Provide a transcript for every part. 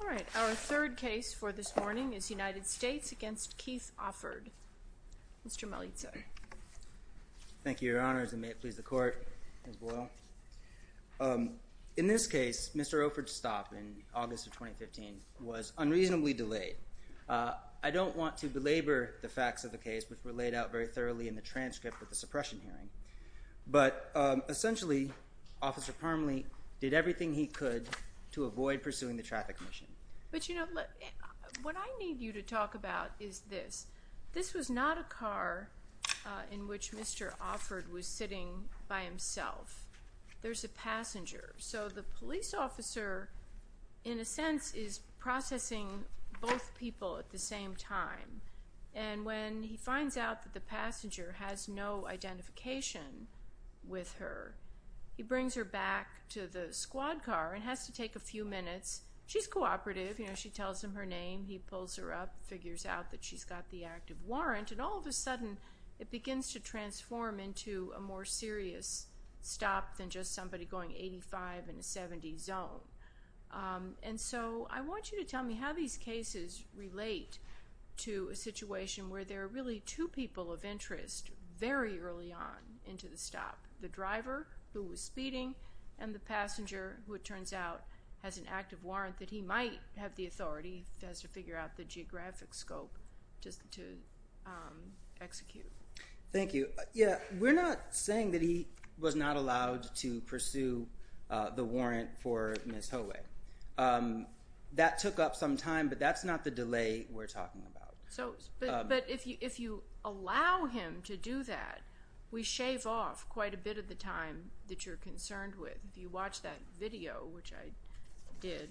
All right, our third case for this morning is United States v. Keith Offord. Mr. Melitza. Thank you, Your Honors, and may it please the Court, Ms. Boyle. In this case, Mr. Offord's stop in August of 2015 was unreasonably delayed. I don't want to belabor the facts of the case, which were laid out very thoroughly in the transcript of the suppression hearing, but essentially, Officer Parmley did everything he could to avoid pursuing the traffic mission. But, you know, what I need you to talk about is this. This was not a car in which Mr. Offord was sitting by himself. There's a passenger. So the police officer, in a sense, is processing both people at the same time. And when he finds out that the passenger has no identification with her, he brings her back to the squad car and has to take a few minutes. She's cooperative. You know, she tells him her name. He pulls her up, figures out that she's got the active a more serious stop than just somebody going 85 in a 70 zone. And so I want you to tell me how these cases relate to a situation where there are really two people of interest very early on into the stop. The driver, who was speeding, and the passenger, who it turns out has an active warrant that he might have the authority, if he has to figure out the saying that he was not allowed to pursue the warrant for Ms. Howay. That took up some time, but that's not the delay we're talking about. So, but if you allow him to do that, we shave off quite a bit of the time that you're concerned with. If you watch that video, which I did,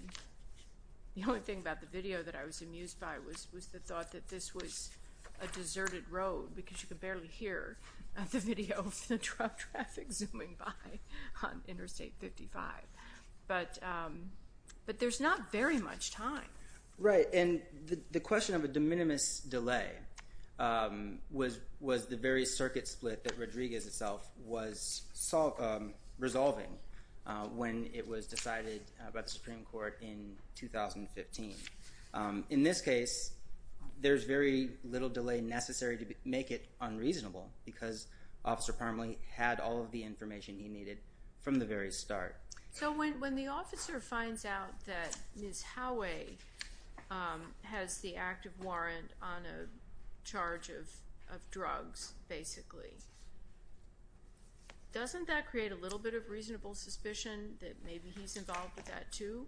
the only thing about the video that I was amused by was the thought that this was a deserted road because you could barely hear the video of the traffic zooming by on Interstate 55. But there's not very much time. Right. And the question of a de minimis delay was the very circuit split that Rodriguez itself was resolving when it was decided by the Supreme Court in 2015. In this case, there's very little delay necessary to make it unreasonable because Officer Parmalee had all of the information he needed from the very start. So when the officer finds out that Ms. Howay has the active warrant on a charge of drugs, basically, doesn't that create a little bit of reasonable suspicion that maybe he's involved with that, too?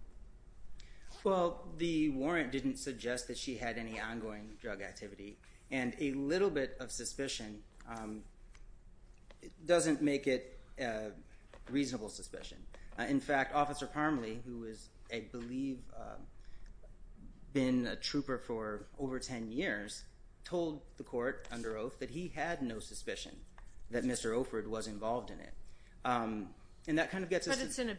Well, the warrant didn't suggest that she had any ongoing drug activity, and a little bit of suspicion doesn't make it reasonable suspicion. In fact, Officer Parmalee, who is, I believe, been a trooper for over 10 years, told the court under oath that he had no suspicion that Mr. Offord was involved in it. And that kind of gets us to...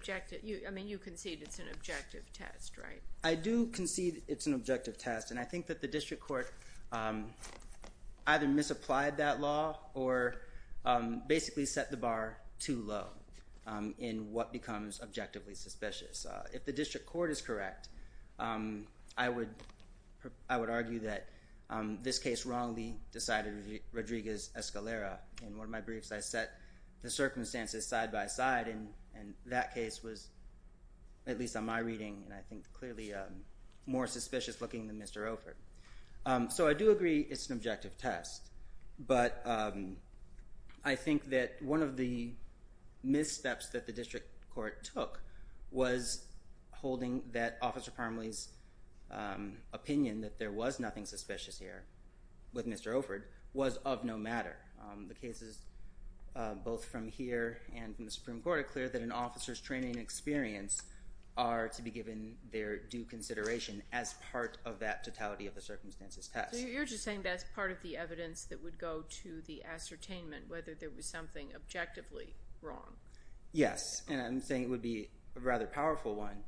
I mean, you concede it's an objective test, right? I do concede it's an objective test, and I think that the district court either misapplied that law or basically set the bar too low in what becomes objectively suspicious. If the district court is correct, I would argue that this case wrongly decided Rodriguez-Escalera. In one of my briefs, I set the circumstances side by side, and that case was, at least on my reading, and I think clearly more suspicious-looking than Mr. Offord. So I do agree it's an objective test, but I think that one of the missteps that the district court took was holding that Officer Parmalee's opinion that there was nothing suspicious here with Mr. Offord was of no matter. The cases both from here and from the Supreme Court are clear that an officer's training and experience are to be given their due consideration as part of that totality of the circumstances test. So you're just saying that's part of the evidence that would go to the ascertainment, whether there was something objectively wrong? Yes, and I'm saying it would be a rather powerful one,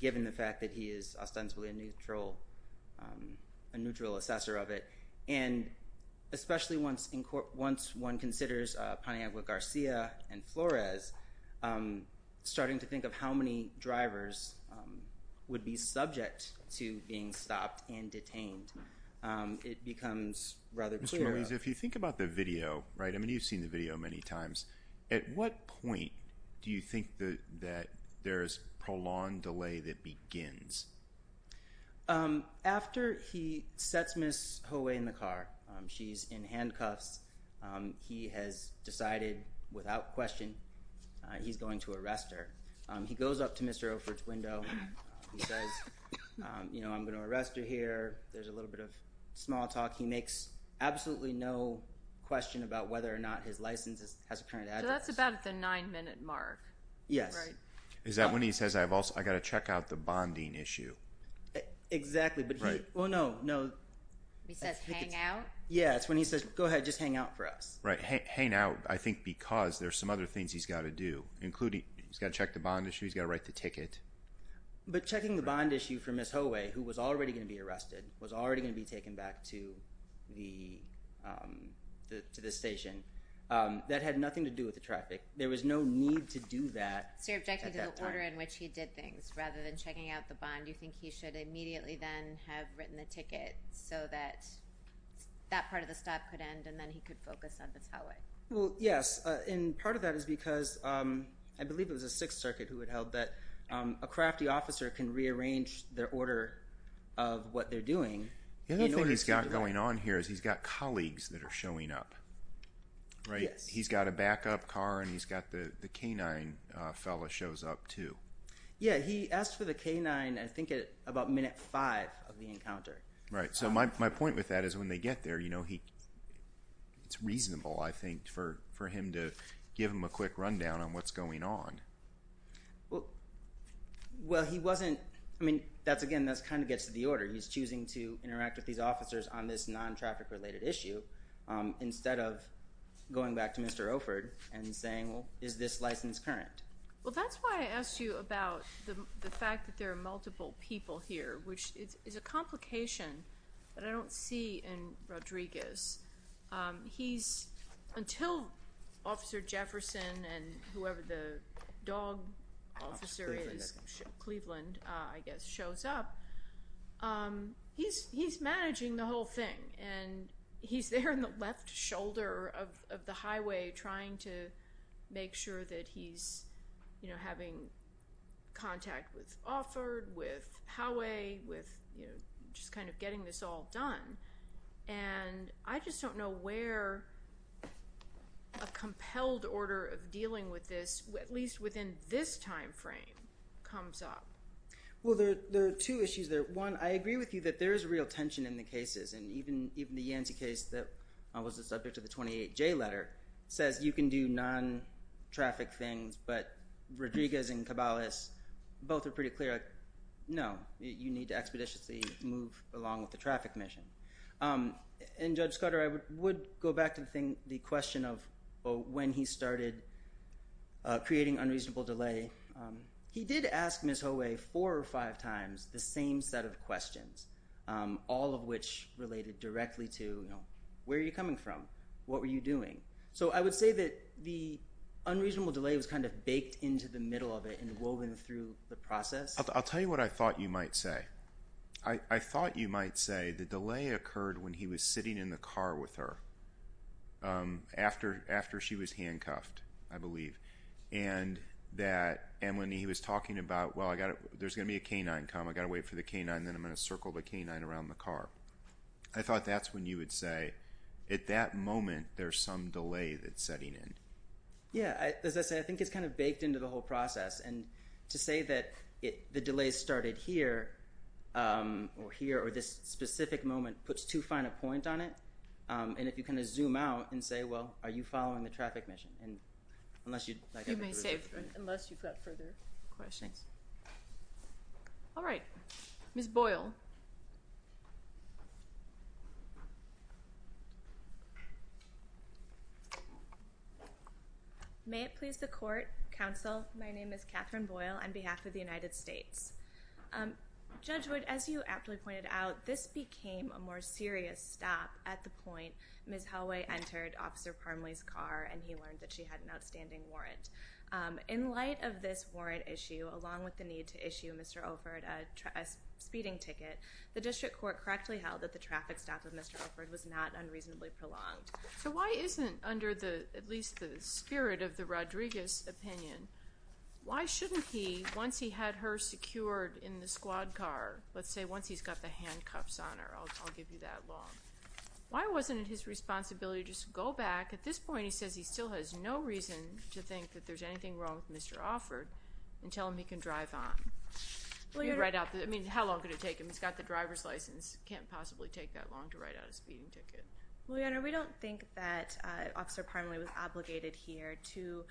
given the fact that he is ostensibly a neutral assessor of it, and especially once one considers Paniagua-Garcia and Flores, starting to think of how many drivers would be subject to being stopped and detained, it becomes rather clear. Mr. Melendez, if you think about the video, right, I mean you've seen the video many times. At what point do you think that there is prolonged delay that begins? After he sets Ms. Ho way in the car, she's in handcuffs, he has decided without question he's going to arrest her. He goes up to Mr. Offord's window, he says, you know, I'm going to arrest her here. There's a little bit of small talk. He makes absolutely no question about whether or not his license has a current address. So that's about at the nine minute mark. Yes. Is that when he says, I've also got to check out the bonding issue? Exactly, but he, well no, no. He says hang out? Yeah, it's when he says, go ahead, just hang out for us. Right, hang out, I think because there's some other things he's got to do, including he's got to check the bond issue, he's got to write the ticket. But checking the bond issue for Ms. Ho way, who was already going to be arrested, was That had nothing to do with the traffic. There was no need to do that at that time. So you're objecting to the order in which he did things, rather than checking out the bond. You think he should immediately then have written the ticket so that that part of the stop could end and then he could focus on Ms. Ho way? Well, yes, and part of that is because I believe it was the Sixth Circuit who had held that a crafty officer can rearrange the order of what they're doing. The other thing he's got going on here is he's got colleagues that are showing up, right? He's got a backup car and he's got the K-9 fella shows up too. Yeah, he asked for the K-9, I think at about minute five of the encounter. Right, so my point with that is when they get there, you know, it's reasonable, I think, for him to give them a quick rundown on what's going on. Well, he wasn't, I mean, that's again, that kind of gets to the order. He's choosing to interact with these officers on this non-traffic related issue instead of going back to Mr. Oford and saying, well, is this license current? Well, that's why I asked you about the fact that there are multiple people here, which is a complication that I don't see in Rodriguez. He's, until Officer Jefferson and whoever the dog officer is, Cleveland, I guess, shows up, he's managing the whole thing and he's there on the left shoulder of the highway trying to make sure that he's, you know, having contact with Oford, with Howey, with, you know, just kind of getting this all done, and I just don't know where a compelled order of dealing with this, at least within this time frame, comes up. Well, there are two issues there. One, I agree with you that there is real tension in the cases, and even the Yancy case that was the subject of the 28J letter says you can do non-traffic things, but Rodriguez and the traffic mission. And Judge Scudder, I would go back to the question of when he started creating unreasonable delay. He did ask Ms. Howey four or five times the same set of questions, all of which related directly to, you know, where are you coming from? What were you doing? So I would say that the unreasonable delay was kind of baked into the middle of it and woven through the process. I'll tell you what I thought you might say. I thought you might say the delay occurred when he was sitting in the car with her after she was handcuffed, I believe, and when he was talking about, well, there's going to be a K-9 come. I've got to wait for the K-9, and then I'm going to circle the K-9 around the car. I thought that's when you would say, at that moment, there's some delay that's setting in. Yeah. As I say, I think it's kind of baked into the whole process. And to say that the delay started here or here or this specific moment puts too fine a point on it. And if you kind of zoom out and say, well, are you following the traffic mission? And unless you'd like to... You may save, unless you've got further questions. All right. Ms. Boyle. May it please the Court. Counsel, my name is Catherine Boyle on behalf of the United States. Judge Wood, as you aptly pointed out, this became a more serious stop at the point Ms. Holloway entered Officer Parmley's car and he learned that she had an outstanding warrant. In light of this warrant issue, along with the need to issue Mr. Oford a speeding ticket, the district court correctly held that the traffic stop of Mr. Oford was not unreasonably prolonged. So why isn't under the, at least the spirit of the Rodriguez opinion, why shouldn't he, once he had her secured in the squad car, let's say once he's got the handcuffs on her, I'll give you that long, why wasn't it his responsibility to just go back? At this point, he says he still has no reason to think that there's anything wrong with Mr. Oford and tell him he can drive on. I mean, how long could it take him? He's got the driver's license. He can't possibly take that long to write out a speeding ticket. Well, Your Honor, we don't think that Officer Parmley was obligated here to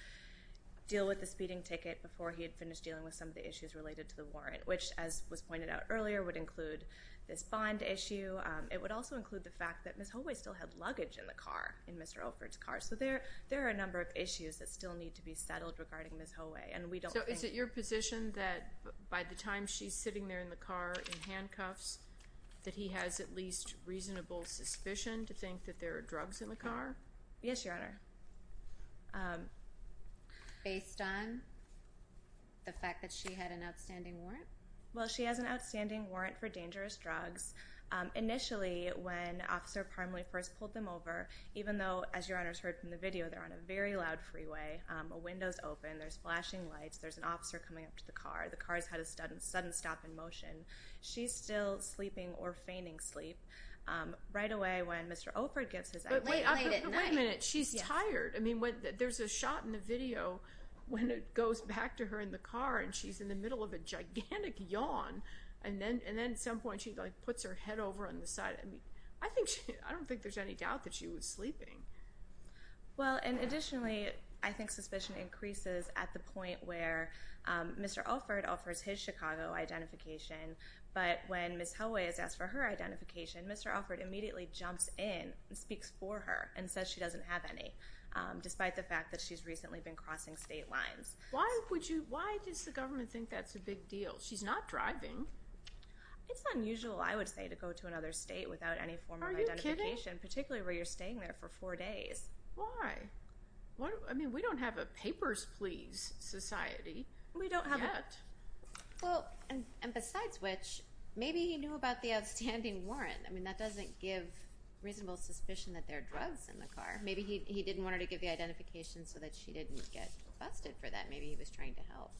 deal with the speeding ticket before he had finished dealing with some of the issues related to the warrant, which, as was pointed out earlier, would include this bond issue. It would also include the fact that Ms. Holloway still had luggage in the car, in Mr. Oford's car, so there are a number of issues that still need to be settled regarding Ms. Holloway and we don't think... So is it your position that by the time she's sitting there in the car in handcuffs that he has at least reasonable suspicion to think that there are drugs in the car? Yes, Your Honor. Based on the fact that she had an outstanding warrant? Well, she has an outstanding warrant for dangerous drugs. Initially, when Officer Parmley first pulled them over, even though, as Your Honor's heard from the video, they're on a very loud freeway, a window's open, there's flashing lights, there's an officer coming up to the car, the car's had a sudden stop in motion, she's still sleeping or fainting sleep, right away when Mr. Oford gives his... But wait a minute, she's tired. I mean, there's a shot in the video when it goes back to her in the car and she's in the middle of a gigantic yawn and then at some point she puts her head over on the side. I mean, I don't think there's any doubt that she was sleeping. Well, and additionally, I think suspicion increases at the point where Mr. Oford offers his Chicago identification, but when Ms. Helway is asked for her identification, Mr. Oford immediately jumps in and speaks for her and says she doesn't have any, despite the fact that she's recently been crossing state lines. Why would you, why does the government think that's a big deal? She's not driving. It's unusual, I would say, to go to another state without any form of identification. Are you kidding? Particularly where you're staying there for four days. Why? I mean, we don't have a papers please society. We don't have it yet. Well, and besides which, maybe he knew about the outstanding warrant. I mean, that doesn't give reasonable suspicion that there are drugs in the car. Maybe he didn't want her to give the identification so that she didn't get busted for that. Maybe he was trying to help.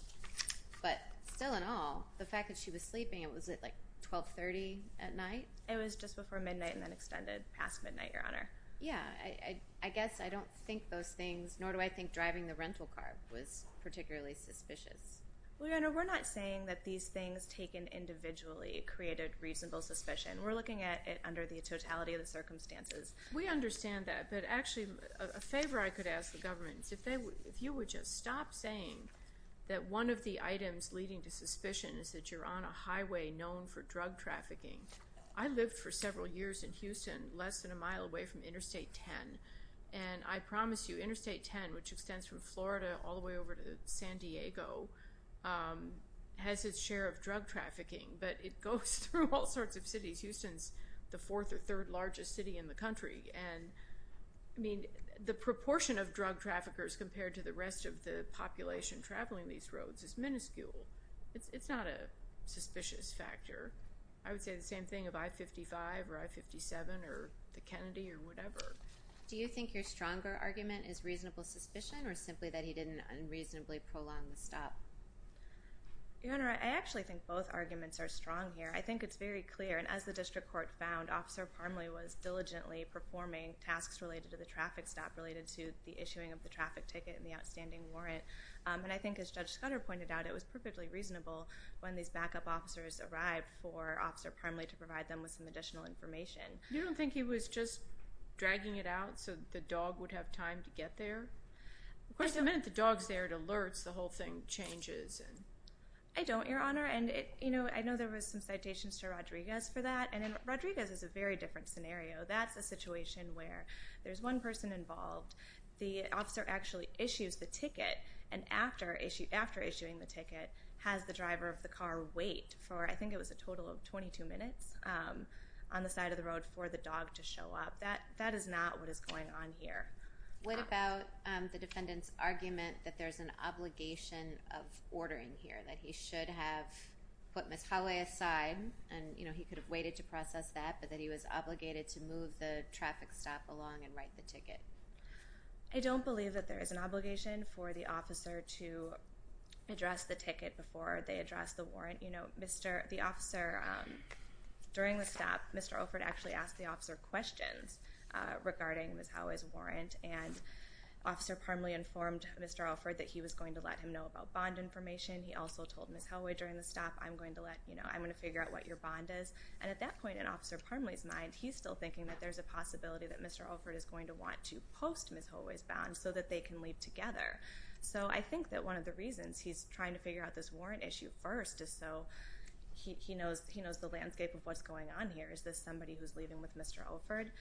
But still in all, the fact that she was sleeping, was it like 1230 at night? It was just before midnight and then extended past midnight, Your Honor. Yeah, I guess I don't think those things, nor do I think driving the rental car was particularly suspicious. Well, Your Honor, we're not saying that these things taken individually created reasonable suspicion. We're looking at it under the totality of the circumstances. We understand that. But actually, a favor I could ask the government is if you would just stop saying that one of the items leading to suspicion is that you're on a highway known for drug trafficking. I lived for several years in Houston, less than a mile away from Interstate 10. And I promise you, Interstate 10, which extends from Florida all the way over to San Diego, has its share of drug trafficking. But it goes through all sorts of cities. Houston's the fourth or third largest city in the country. And, I mean, the proportion of drug traffickers compared to the rest of the population traveling these roads is minuscule. It's not a suspicious factor. I would say the same thing of I-55 or I-57 or the Kennedy or whatever. Do you think your stronger argument is reasonable suspicion or simply that he didn't unreasonably prolong the stop? Your Honor, I actually think both arguments are strong here. I think it's very clear, and as the district court found, Officer Parmley was diligently performing tasks related to the traffic stop, related to the issuing of the traffic ticket and the outstanding warrant. And I think, as Judge Scudder pointed out, it was perfectly reasonable when these backup officers arrived for Officer Parmley to provide them with some additional information. You don't think he was just dragging it out so the dog would have time to get there? Of course, the minute the dog's there, it alerts. The whole thing changes. I don't, Your Honor. And, you know, I know there was some citations to Rodriguez for that. And Rodriguez is a very different scenario. The officer actually issues the ticket. And after issuing the ticket, has the driver of the car wait for, I think it was a total of 22 minutes, on the side of the road for the dog to show up. That is not what is going on here. What about the defendant's argument that there's an obligation of ordering here, that he should have put Ms. Howey aside, and he could have waited to process that, but that he was obligated to move the traffic stop along and write the ticket? I don't believe that there is an obligation for the officer to address the ticket before they address the warrant. You know, the officer, during the stop, Mr. Alford actually asked the officer questions regarding Ms. Howey's warrant, and Officer Parmley informed Mr. Alford that he was going to let him know about bond information. He also told Ms. Howey during the stop, I'm going to figure out what your bond is. And at that point, in Officer Parmley's mind, he's still thinking that there's a possibility that Mr. Alford is going to want to post Ms. Howey's bond so that they can leave together. So I think that one of the reasons he's trying to figure out this warrant issue first is so he knows the landscape of what's going on here. Is this somebody who's leaving with Mr. Alford?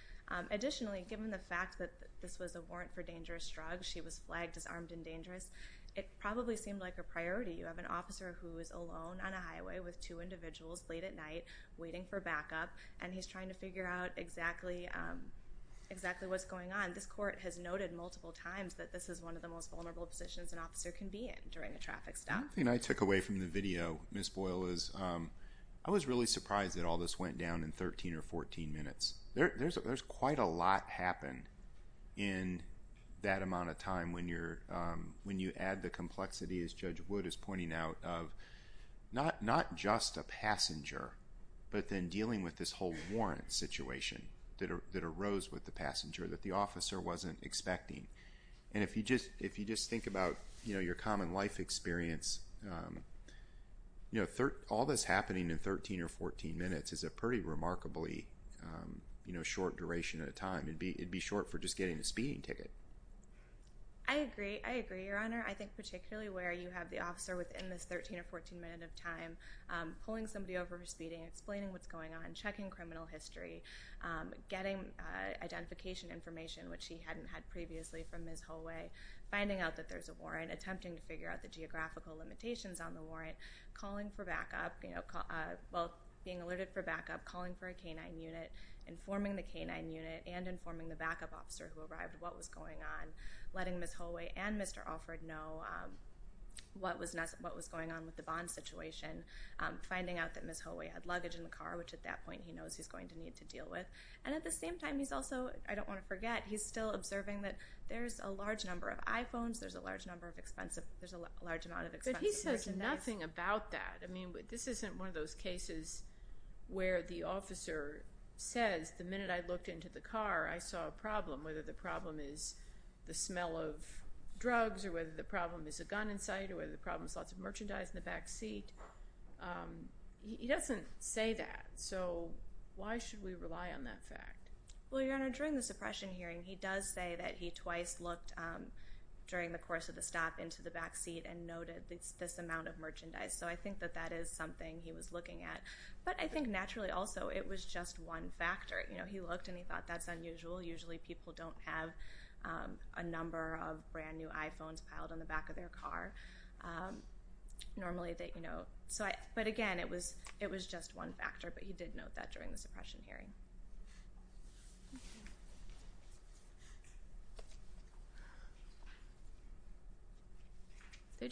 Additionally, given the fact that this was a warrant for dangerous drugs, she was flagged as armed and dangerous, it probably seemed like a priority. You have an officer who is alone on a highway with two individuals late at night waiting for backup, and he's trying to figure out exactly what's going on. This court has noted multiple times that this is one of the most vulnerable positions an officer can be in during a traffic stop. One thing I took away from the video, Ms. Boyle, is I was really surprised that all this went down in 13 or 14 minutes. There's quite a lot happened in that amount of time when you add the complexity, as Judge Wood is pointing out, of not just a passenger, but then dealing with this whole warrant situation that arose with the passenger that the officer wasn't expecting. And if you just think about your common life experience, all this happening in 13 or 14 minutes is a pretty remarkably short duration of time. It'd be short for just getting a speeding ticket. I agree. I agree, Your Honor. I think particularly where you have the officer within this 13 or 14 minute of time pulling somebody over for speeding, explaining what's going on, checking criminal history, getting identification information, which he hadn't had previously from Ms. Holloway, finding out that there's a warrant, attempting to figure out the geographical limitations on the warrant, being alerted for backup, calling for a K-9 unit, informing the K-9 unit, and informing the backup officer who arrived what was going on, letting Ms. Holloway and Mr. Alford know what was going on with the bond situation, finding out that Ms. Holloway had luggage in the car, which at that point he knows he's going to need to deal with. And at the same time, he's also, I don't want to forget, he's still observing that there's a large number of iPhones, there's a large amount of expensive merchandise. But he says nothing about that. I mean, this isn't one of those cases where the officer says, the minute I looked into the car, I saw a problem, whether the problem is the smell of drugs or whether the problem is a gun in sight or whether the problem is lots of merchandise in the back seat. He doesn't say that. So why should we rely on that fact? Well, Your Honor, during the suppression hearing, he does say that he twice looked during the course of the stop into the back seat and noted this amount of merchandise. So I think that that is something he was looking at. But I think naturally also it was just one factor. You know, he looked and he thought that's unusual. Usually people don't have a number of brand new iPhones piled on the back of their car. Normally they, you know. But again, it was just one factor, but he did note that during the suppression hearing. The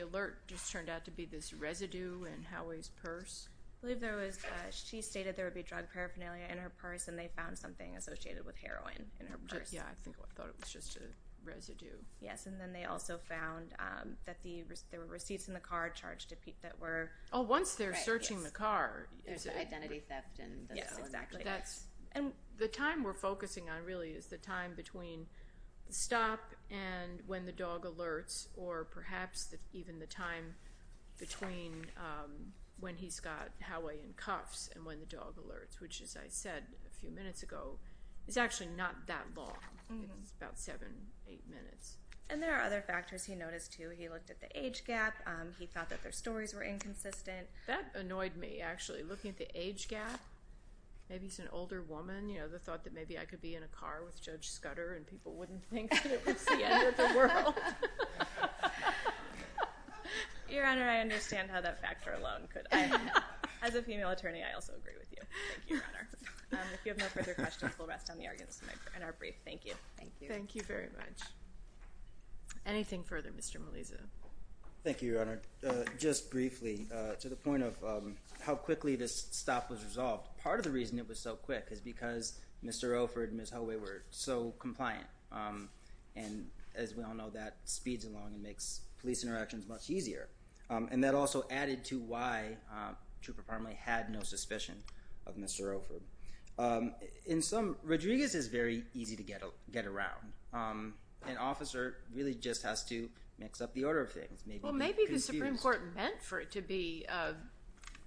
alert just turned out to be this residue in Howie's purse. I believe she stated there would be drug paraphernalia in her purse, and they found something associated with heroin in her purse. Yeah, I thought it was just a residue. Yes, and then they also found that there were receipts in the car charged to Pete that were... Oh, once they're searching the car. Identity theft and... Yes, exactly. And the time we're focusing on really is the time between the stop and when the dog alerts, or perhaps even the time between when he's got Howie in cuffs and when the dog alerts, which, as I said a few minutes ago, is actually not that long. It's about seven, eight minutes. And there are other factors he noticed, too. He looked at the age gap. He thought that their stories were inconsistent. That annoyed me, actually, looking at the age gap. Maybe he's an older woman. The thought that maybe I could be in a car with Judge Scudder and people wouldn't think that it was the end of the world. Your Honor, I understand how that factor alone could... As a female attorney, I also agree with you. Thank you, Your Honor. If you have no further questions, we'll rest on the arguments in our brief. Thank you. Thank you. Thank you very much. Anything further? Mr. Melisa. Thank you, Your Honor. Just briefly, to the point of how quickly this stop was resolved, part of the reason it was so quick is because Mr. Offord and Ms. Holloway were so compliant. And as we all know, that speeds along and makes police interactions much easier. And that also added to why Trooper Parmley had no suspicion of Mr. Offord. In sum, Rodriguez is very easy to get around. An officer really just has to mix up the order of things. Well, maybe the Supreme Court meant for it to be a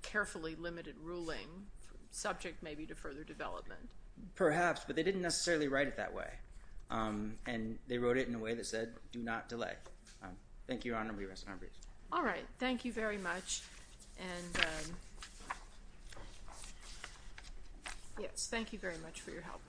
carefully limited ruling, subject maybe to further development. Perhaps, but they didn't necessarily write it that way. And they wrote it in a way that said, do not delay. Thank you, Your Honor. We rest in our briefs. All right. Thank you very much. And yes, thank you very much for your help.